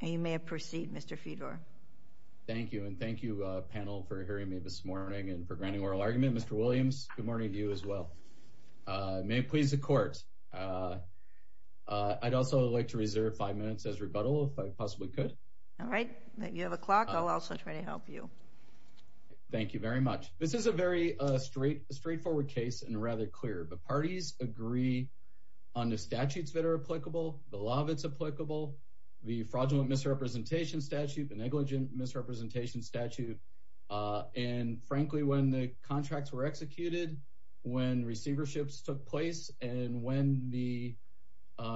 You may proceed, Mr. Fedor. Thank you, and thank you, panel, for hearing me this morning and for granting oral argument. Mr. Williams, good morning to you as well. May it please the Court, I'd also like to reserve five minutes as rebuttal if I possibly could. All right, you have a clock, I'll also try to help you. Thank you very much. This is a very straightforward case and rather clear, but parties agree on the statutes that are applicable, the law that's applicable, the fraudulent misrepresentation statute, the negligent misrepresentation statute, and frankly, when the contracts were executed, when receiverships took place, and when the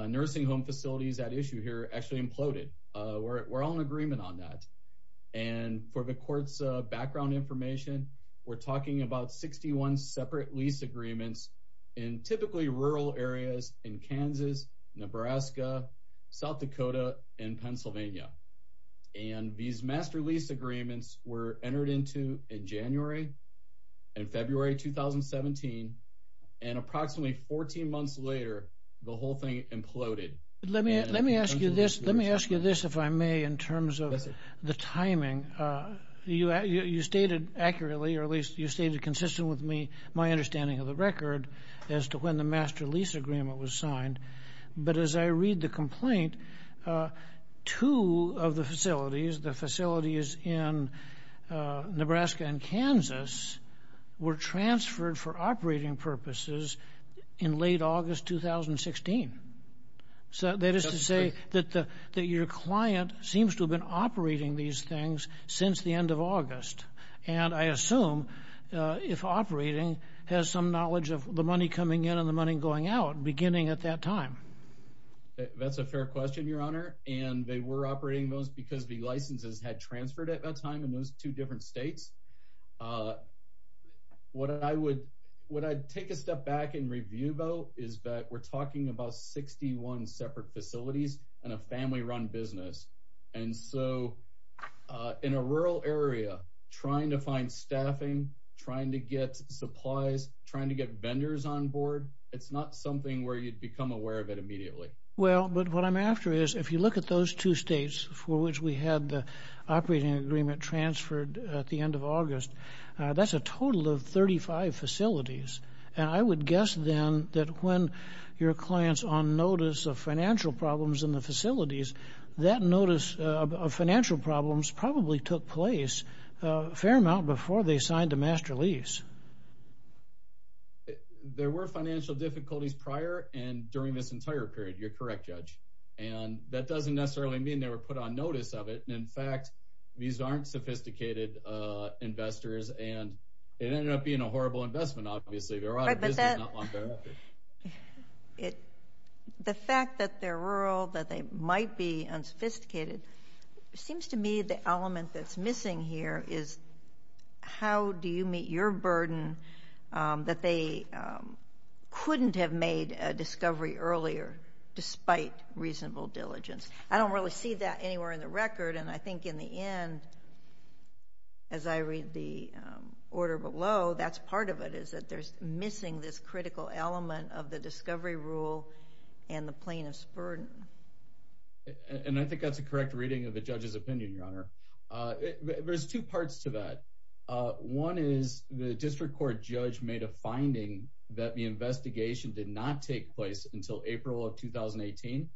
nursing home facilities at issue here actually imploded. We're all in agreement on that. And for the Court's background information, we're talking about 61 separate lease agreements in typically rural areas in Kansas, Nebraska, South Dakota, and Pennsylvania. And these master lease agreements were entered into in January and February 2017, and approximately 14 months later, the whole thing imploded. Mr. Laird Let me ask you this, if I may, in terms of the timing. You stated accurately, or at least you stated consistently with me understanding of the record, as to when the master lease agreement was signed. But as I read the complaint, two of the facilities, the facilities in Nebraska and Kansas, were transferred for operating purposes in late August 2016. So that is to say that your client seems to have been has some knowledge of the money coming in and the money going out beginning at that time. Mr. Laird That's a fair question, Your Honor. And they were operating those because the licenses had transferred at that time in those two different states. What I would, what I'd take a step back and review about is that we're talking about 61 separate facilities and a family run business. And so in a rural area, trying to find trying to get vendors on board, it's not something where you'd become aware of it immediately. Mr. Laird Well, but what I'm after is if you look at those two states for which we had the operating agreement transferred at the end of August, that's a total of 35 facilities. And I would guess then that when your clients on notice of financial problems in the facilities, that notice of financial problems probably took place a fair amount before they signed a master lease. Mr. Laird There were financial difficulties prior and during this entire period. You're correct, Judge. And that doesn't necessarily mean they were put on notice of it. And in fact, these aren't sophisticated investors and it ended up being a horrible investment. Obviously, they're out of business not long thereafter. Ms. Laird The fact that they're rural, that they might be unsophisticated, seems to me the element that's missing here is how do you meet your burden that they couldn't have made a discovery earlier despite reasonable diligence? I don't really see that anywhere in the record. And I think in the end, as I read the order below, that's part of it, is that there's missing this critical element of the discovery rule and the plaintiff's burden. Mr. Laird And I think that's a correct reading of the judge's opinion, Your Honor. There's two parts to that. One is the district court judge made a finding that the investigation did not take place until April of 2018.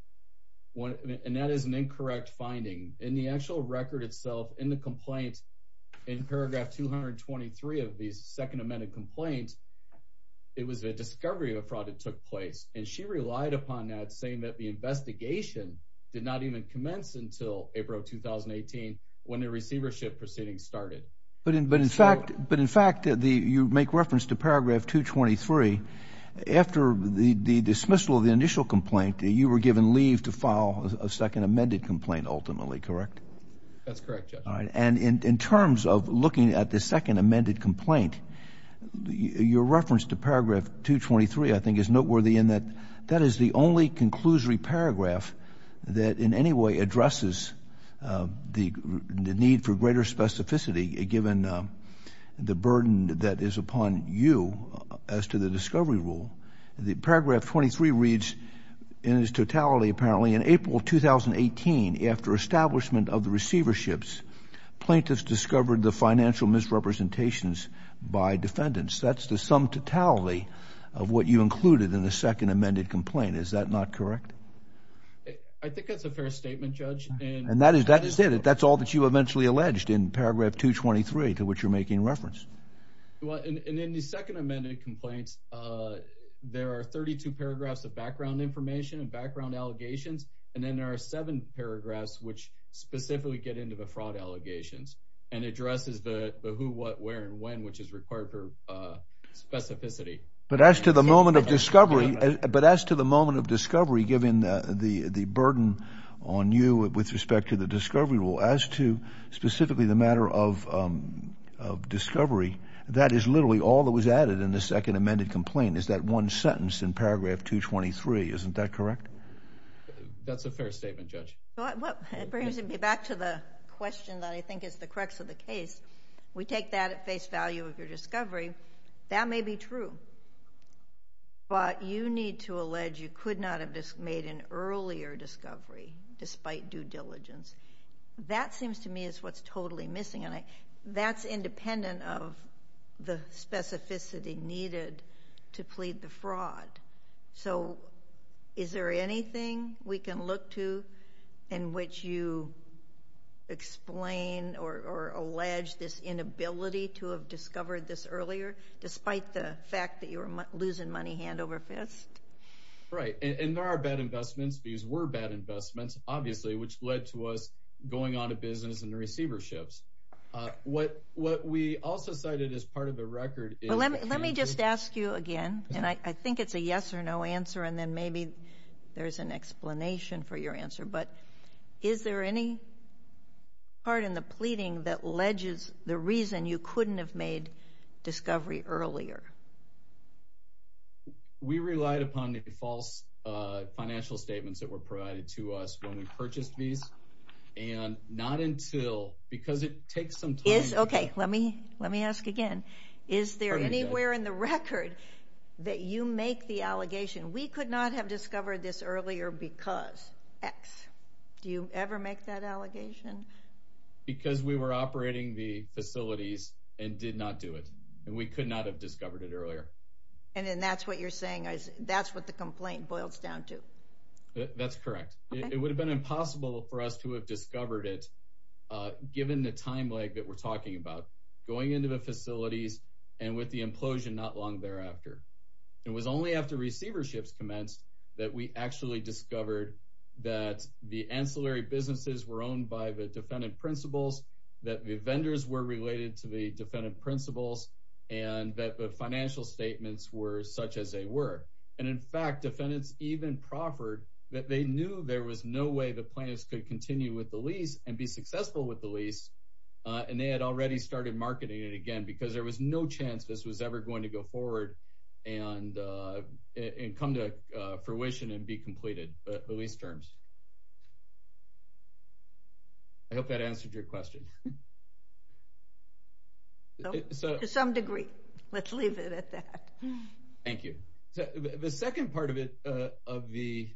And that is an incorrect finding. In the actual record itself, in the complaint, in paragraph 223 of the second amended complaint, it was a discovery of fraud that took place. And she relied upon that saying that the investigation did not even commence until April of 2018 when the receivership proceedings started. But in fact, you make reference to paragraph 223. After the dismissal of the initial complaint, you were given leave to file a second amended complaint ultimately, correct? That's correct, Your Honor. And in terms of looking at the second amended complaint, your reference to paragraph 223, I think, is noteworthy in that that is the only conclusory paragraph that in any way addresses the need for greater specificity, given the burden that is upon you as to the discovery rule. The paragraph 23 reads in its totality, apparently, in April of 2018, after establishment of the receiverships, plaintiffs discovered the financial misrepresentations by defendants. That's the sum totality of what you included in the second amended complaint. Is that not correct? I think that's a fair statement, Judge. And that is it. That's all that you eventually alleged in paragraph 223 to which you're making reference. And in the second amended complaints, there are 32 paragraphs of background information and background allegations. And then there are seven paragraphs which specifically get into fraud allegations and addresses the who, what, where, and when, which is required for specificity. But as to the moment of discovery, but as to the moment of discovery, given the burden on you with respect to the discovery rule, as to specifically the matter of discovery, that is literally all that was added in the second amended complaint is that one sentence in paragraph 223. Isn't that correct? That's a fair statement, Judge. It brings me back to the question that I think is the crux of the case. We take that at face value of your discovery. That may be true. But you need to allege you could not have made an earlier discovery despite due diligence. That seems to me is what's totally missing. And that's independent of the specificity needed to plead the fraud. So is there anything we can look to in which you explain or allege this inability to have discovered this earlier, despite the fact that you were losing money hand over fist? Right. And there are bad investments. These were bad investments, obviously, which led to us going on to business and the receiverships. What we also cited as part of the record is... Let me just ask you again. And I think it's a yes or no answer. And then maybe there's an explanation for your answer. But is there any part in the pleading that alleges the reason you couldn't have made discovery earlier? We relied upon the false financial statements that were provided to us when we purchased these. And not until... Because it takes some time. Let me ask again. Is there anywhere in the record that you make the allegation, we could not have discovered this earlier because X. Do you ever make that allegation? Because we were operating the facilities and did not do it. And we could not have discovered it earlier. And then that's what you're saying. That's what the complaint boils down to. That's correct. It would have been impossible for us to have discovered it, given the time lag that we're talking about, going into the facilities and with the implosion not long thereafter. It was only after receiverships commenced that we actually discovered that the ancillary businesses were owned by the defendant principals, that the vendors were related to the defendant principals, and that the financial statements were such as they were. And in fact, defendants even proffered that they knew there was no way the plaintiffs could continue with the lease and be successful with the lease. And they had already started marketing it again because there was no chance this was ever going to go forward and come to fruition and be completed the lease terms. I hope that answered your question. To some degree. Let's leave it at that. Thank you. The second part of the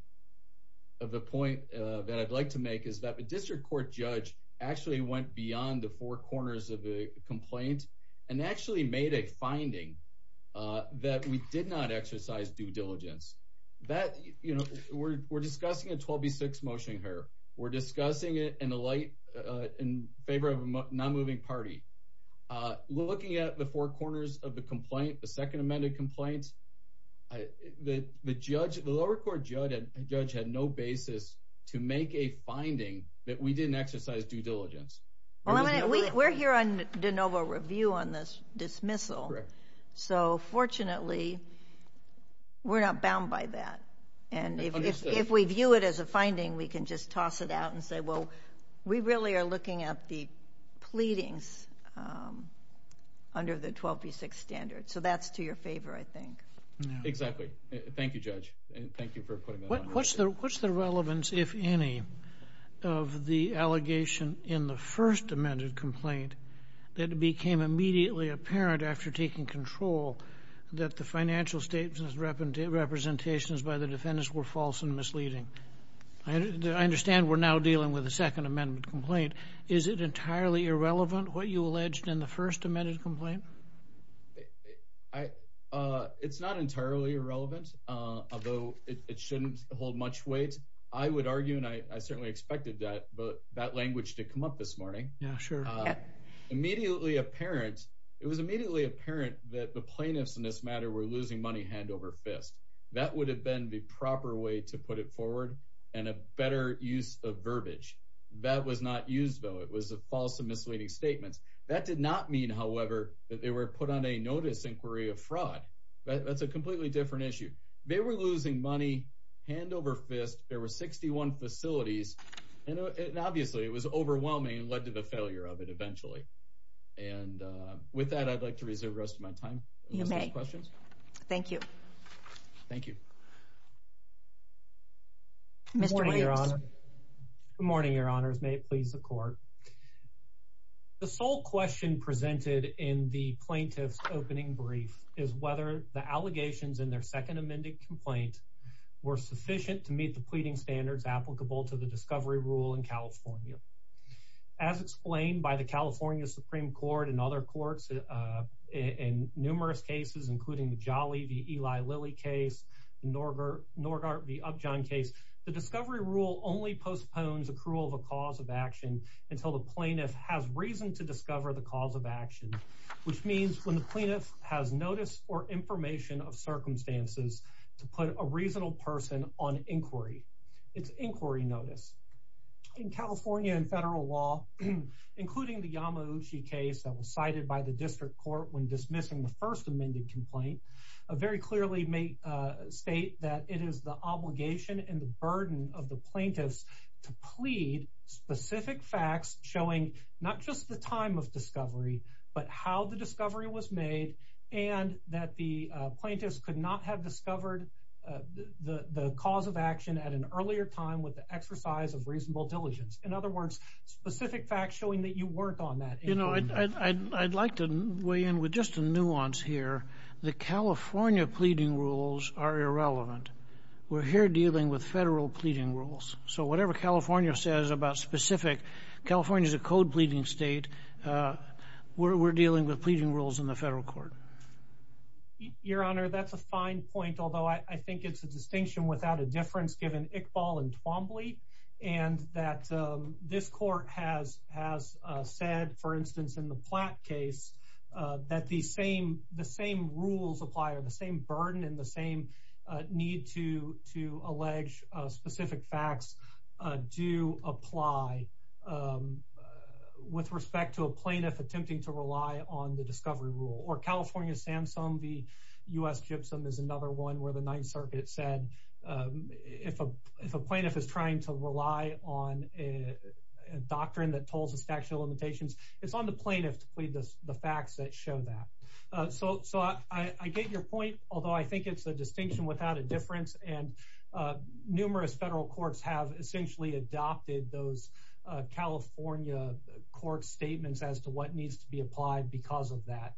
point that I'd like to make is that the district court judge actually went beyond the four corners of the complaint and actually made a finding that we did not exercise due diligence. We're discussing a 12B6 motion here. We're discussing it in favor of a non-moving party. Looking at the four corners of the complaint, the second amended complaints, the lower court judge had no basis to make a finding that we didn't exercise due diligence. We're here on de novo review on this and we can just toss it out and say, well, we really are looking at the pleadings under the 12B6 standard. So that's to your favor, I think. Exactly. Thank you, Judge. Thank you for putting that on. What's the relevance, if any, of the allegation in the first amended complaint that became immediately apparent after taking control that the financial representations by the defendants were false and misleading? I understand we're now dealing with a second amendment complaint. Is it entirely irrelevant, what you alleged in the first amended complaint? It's not entirely irrelevant, although it shouldn't hold much weight. I would argue, and I certainly expected that language to come up this morning. Yeah, sure. It was immediately apparent that the plaintiffs in this matter were losing money hand over fist. That would have been the proper way to put it forward and a better use of verbiage. That was not used, though. It was a false and misleading statement. That did not mean, however, that they were put on a notice inquiry of fraud. That's a completely different issue. They were losing money hand over fist. There were 61 facilities and obviously it was overwhelming and led to the rest of my time. You may. Thank you. Thank you. Good morning, your honors. May it please the court. The sole question presented in the plaintiff's opening brief is whether the allegations in their second amended complaint were sufficient to meet the pleading standards applicable to the discovery rule in California. As explained by the California Supreme Court and other courts in numerous cases, including the Jolly v. Eli Lilly case, the Norgart v. Upjohn case, the discovery rule only postpones accrual of a cause of action until the plaintiff has reason to discover the cause of action, which means when the plaintiff has notice or information of circumstances to put a reasonable person on inquiry, it's inquiry notice. In California and federal law, including the Yamauchi case that was cited by the district court when dismissing the first amended complaint, very clearly may state that it is the obligation and the burden of the plaintiffs to plead specific facts showing not just the time of discovery, but how the discovery was made and that the plaintiffs could not have discovered the cause of action at an earlier time with the exercise of reasonable diligence. In other words, specific facts showing that you work on that. You know, I'd like to weigh in with just a nuance here. The California pleading rules are irrelevant. We're here dealing with federal pleading rules. So whatever California says about specific, California is a code pleading state. We're dealing with pleading rules in the federal court. Your honor, that's a fine point. Although I think it's a distinction without a difference given Iqbal and Twombly and that this court has said, for instance, in the Platt case, that the same rules apply or the same burden and the same need to allege specific facts do apply with respect to a plaintiff attempting to rely on the discovery rule. Or California SAMSUNG v. U.S. GIBSON is another one where the Ninth Circuit said if a plaintiff is trying to rely on a doctrine that tolls the statute of limitations, it's on the plaintiff to plead the facts that show that. So I get your point, although I think it's a distinction without a California court statements as to what needs to be applied because of that.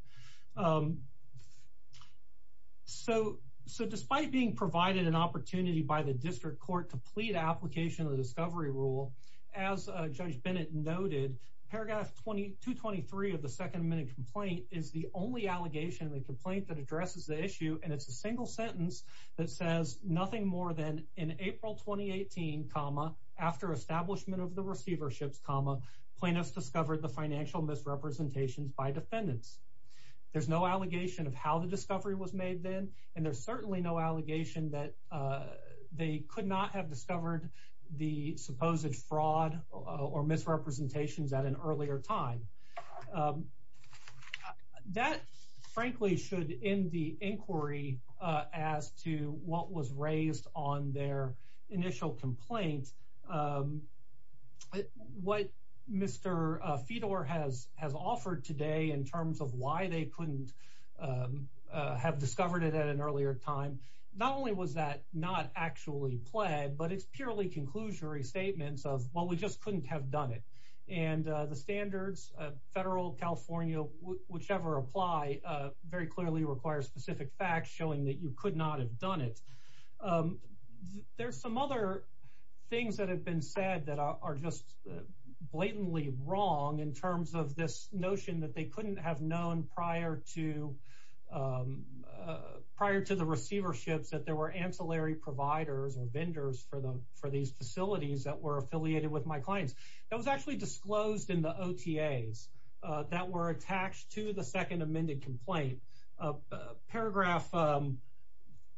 So despite being provided an opportunity by the district court to plead application of the discovery rule, as Judge Bennett noted, paragraph 2223 of the second amendment complaint is the only allegation in the complaint that addresses the issue. And it's a single sentence that says nothing more than in April 2018, comma, after establishment of the receiverships, comma, plaintiffs discovered the financial misrepresentations by defendants. There's no allegation of how the discovery was made then. And there's certainly no allegation that they could not have discovered the supposed fraud or misrepresentations at an earlier time. That, frankly, should end the inquiry as to what was raised on their initial complaint. What Mr. Fedor has offered today in terms of why they couldn't have discovered it at an earlier time, not only was that not actually pled, but it's purely conclusory statements of, we just couldn't have done it. And the standards, federal, California, whichever apply, very clearly requires specific facts showing that you could not have done it. There's some other things that have been said that are just blatantly wrong in terms of this notion that they couldn't have known prior to the receiverships that there were ancillary providers or vendors for these facilities that were affiliated with my clients. That was actually disclosed in the OTAs that were attached to the second amended complaint. Paragraph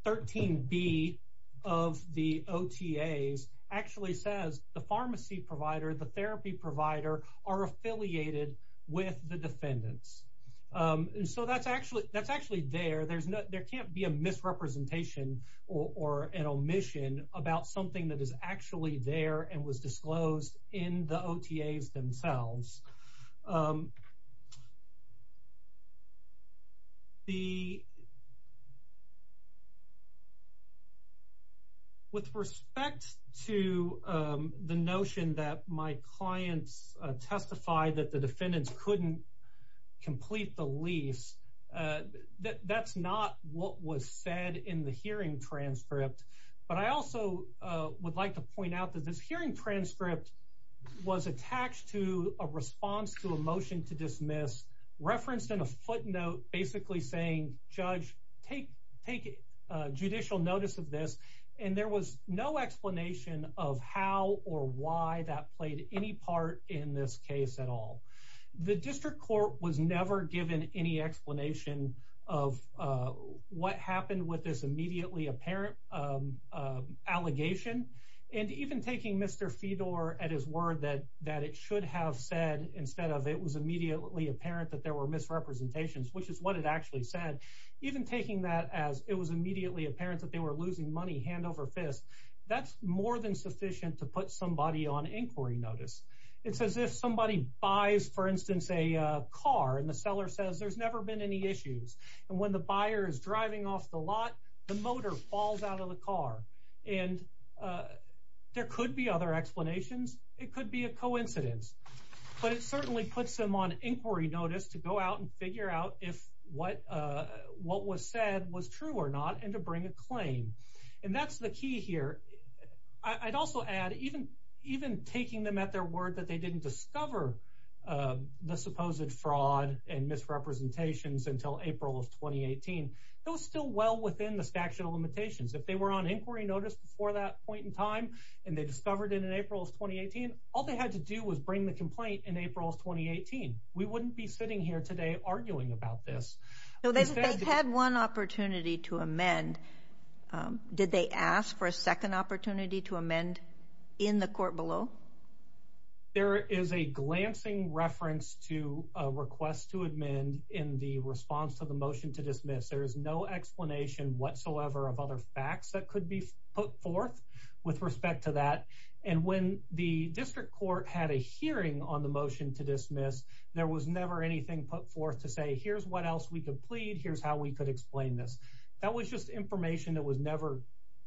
13B of the OTAs actually says the pharmacy provider, the therapy provider, are affiliated with the defendants. So that's actually there. There can't be a misrepresentation or an omission about something that is actually there and was disclosed in the OTAs themselves. With respect to the notion that my clients testified that the defendants couldn't complete the lease, that's not what was said in the hearing transcript. But I also would like to point out that this hearing transcript was attached to a response to a motion to dismiss, referenced in a footnote, basically saying, Judge, take judicial notice of this. And there was no explanation of how or why that played any part in this case at all. The district court was never given any explanation of what happened with this immediately apparent allegation. And even taking Mr. Fedor at his word that it should have said instead of it was immediately apparent that there were misrepresentations, which is what it actually said, even taking that as it was immediately apparent that they were losing money hand over fist, that's more than sufficient to put somebody on inquiry notice. It's as if somebody buys for instance a car and the seller says there's never been any issues. And when the buyer is driving off the lot, the motor falls out of the car. And there could be other explanations. It could be a coincidence. But it certainly puts them on inquiry notice to go out and figure out if what was said was true or not and to bring a claim. And that's the key here. I'd also add, even taking them at their word that they didn't discover the supposed fraud and misrepresentations until April of 2018, it was still well within the statute of limitations. If they were on inquiry notice before that point in time and they discovered it in April of 2018, all they had to do was bring the complaint in April of 2018. We wouldn't be sitting here today arguing about this. So they've had one opportunity to amend. Did they ask for a second opportunity to amend in the court below? There is a glancing reference to a request to amend in the response to the motion to dismiss. There is no explanation whatsoever of other facts that could be put forth with respect to that. And when the district court had a hearing on the motion to dismiss, there was never anything put forth to say, here's what else we could plead. Here's how we could explain this. That was just information that was never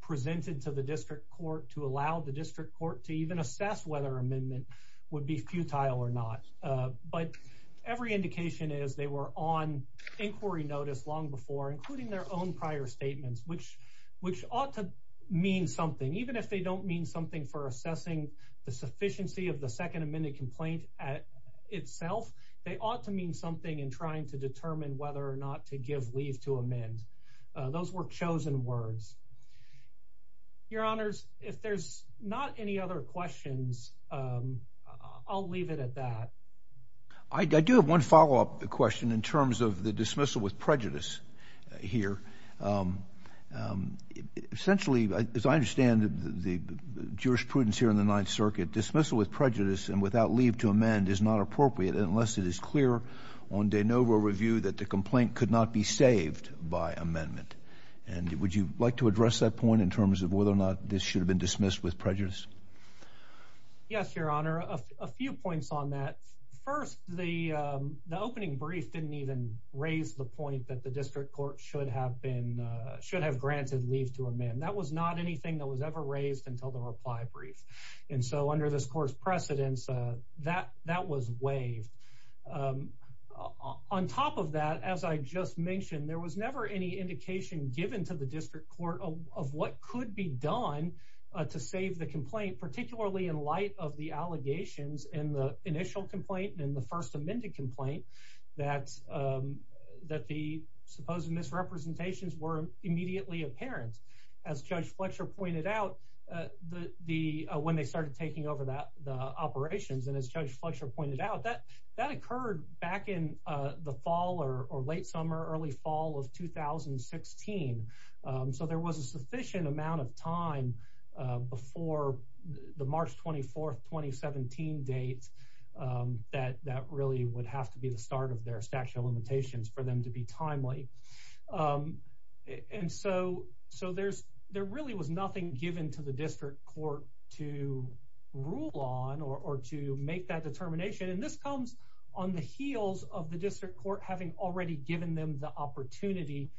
presented to the district court to allow the district court to even assess whether amendment would be futile or not. But every indication is they were on inquiry notice long before, including their own prior statements, which ought to mean something, even if they don't mean something for assessing the sufficiency of the second amended complaint itself, they ought to mean something in trying to determine whether or not to give leave to amend. Those were chosen words. Your honors, if there's not any other questions, I'll leave it at that. I do have one follow-up question in terms of the dismissal with prejudice here. Essentially, as I understand the jurisprudence here in the Ninth Circuit, dismissal with prejudice and without leave to amend is not appropriate unless it is clear on de novo review that the complaint could not be saved by amendment. And would you like to address that point in terms of whether or not this should have been dismissed with prejudice? Yes, your honor. A few points on that. First, the opening brief didn't even raise the point that the district court should have been granted leave to amend. That was not anything that was ever raised until the reply brief. And so under this court's precedence, that was waived. On top of that, as I just mentioned, there was never any indication given to the district court of what could be done to save the complaint, particularly in light of the allegations in the initial complaint and the amended complaint that the supposed misrepresentations were immediately apparent. As Judge Fletcher pointed out when they started taking over the operations, and as Judge Fletcher pointed out, that occurred back in the fall or late summer, early fall of 2016. So there was a really would have to be the start of their statute of limitations for them to be timely. And so there really was nothing given to the district court to rule on or to make that determination. And this comes on the heels of the district court having already given them the opportunity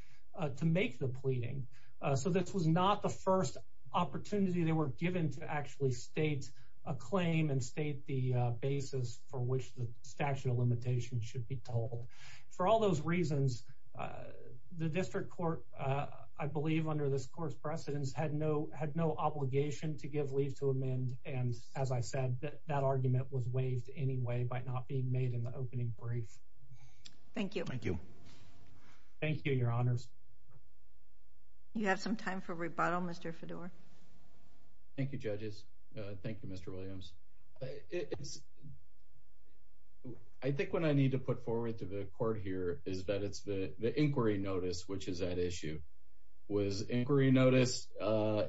to make the pleading. So this was not the first opportunity they were given to actually state a claim and state the basis for which the statute of limitations should be told. For all those reasons, the district court, I believe under this court's precedence, had no obligation to give leave to amend. And as I said, that argument was waived anyway by not being made in the opening brief. Thank you. Thank you. Thank you, Your Honors. You have some time for rebuttal, Mr. Fedor. Thank you, judges. Thank you, Mr. Williams. I think what I need to put forward to the court here is that it's the inquiry notice which is at issue. Was inquiry notice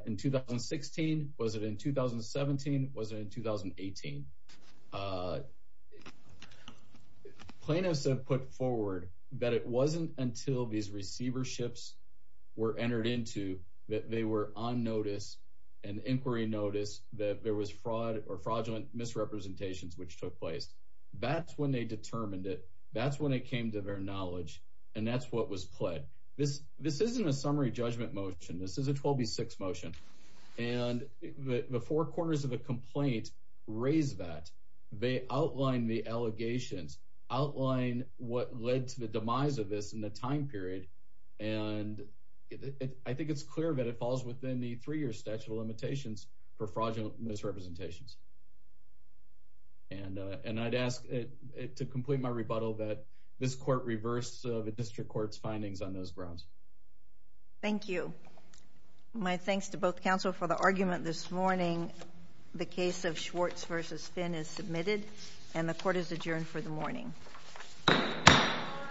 in 2016? Was it in 2017? Was it in 2018? Plaintiffs have put forward that it wasn't until these receiverships were entered into that they were on notice and inquiry notice that there was fraud or fraudulent misrepresentations which took place. That's when they determined it. That's when it came to their knowledge. And that's what was pled. This isn't a summary judgment motion. This is a 12B6 motion. And the four corners of the complaint raise that. They outline the allegations, outline what led to the demise of this in the time period, and I think it's clear that it falls within the three-year statute of limitations for fraudulent misrepresentations. And I'd ask to complete my rebuttal that this court reverse the district court's findings on those grounds. Thank you. My thanks to both counsel for the argument this morning. The case of Schwartz v. Finn is submitted and the court is adjourned for the morning.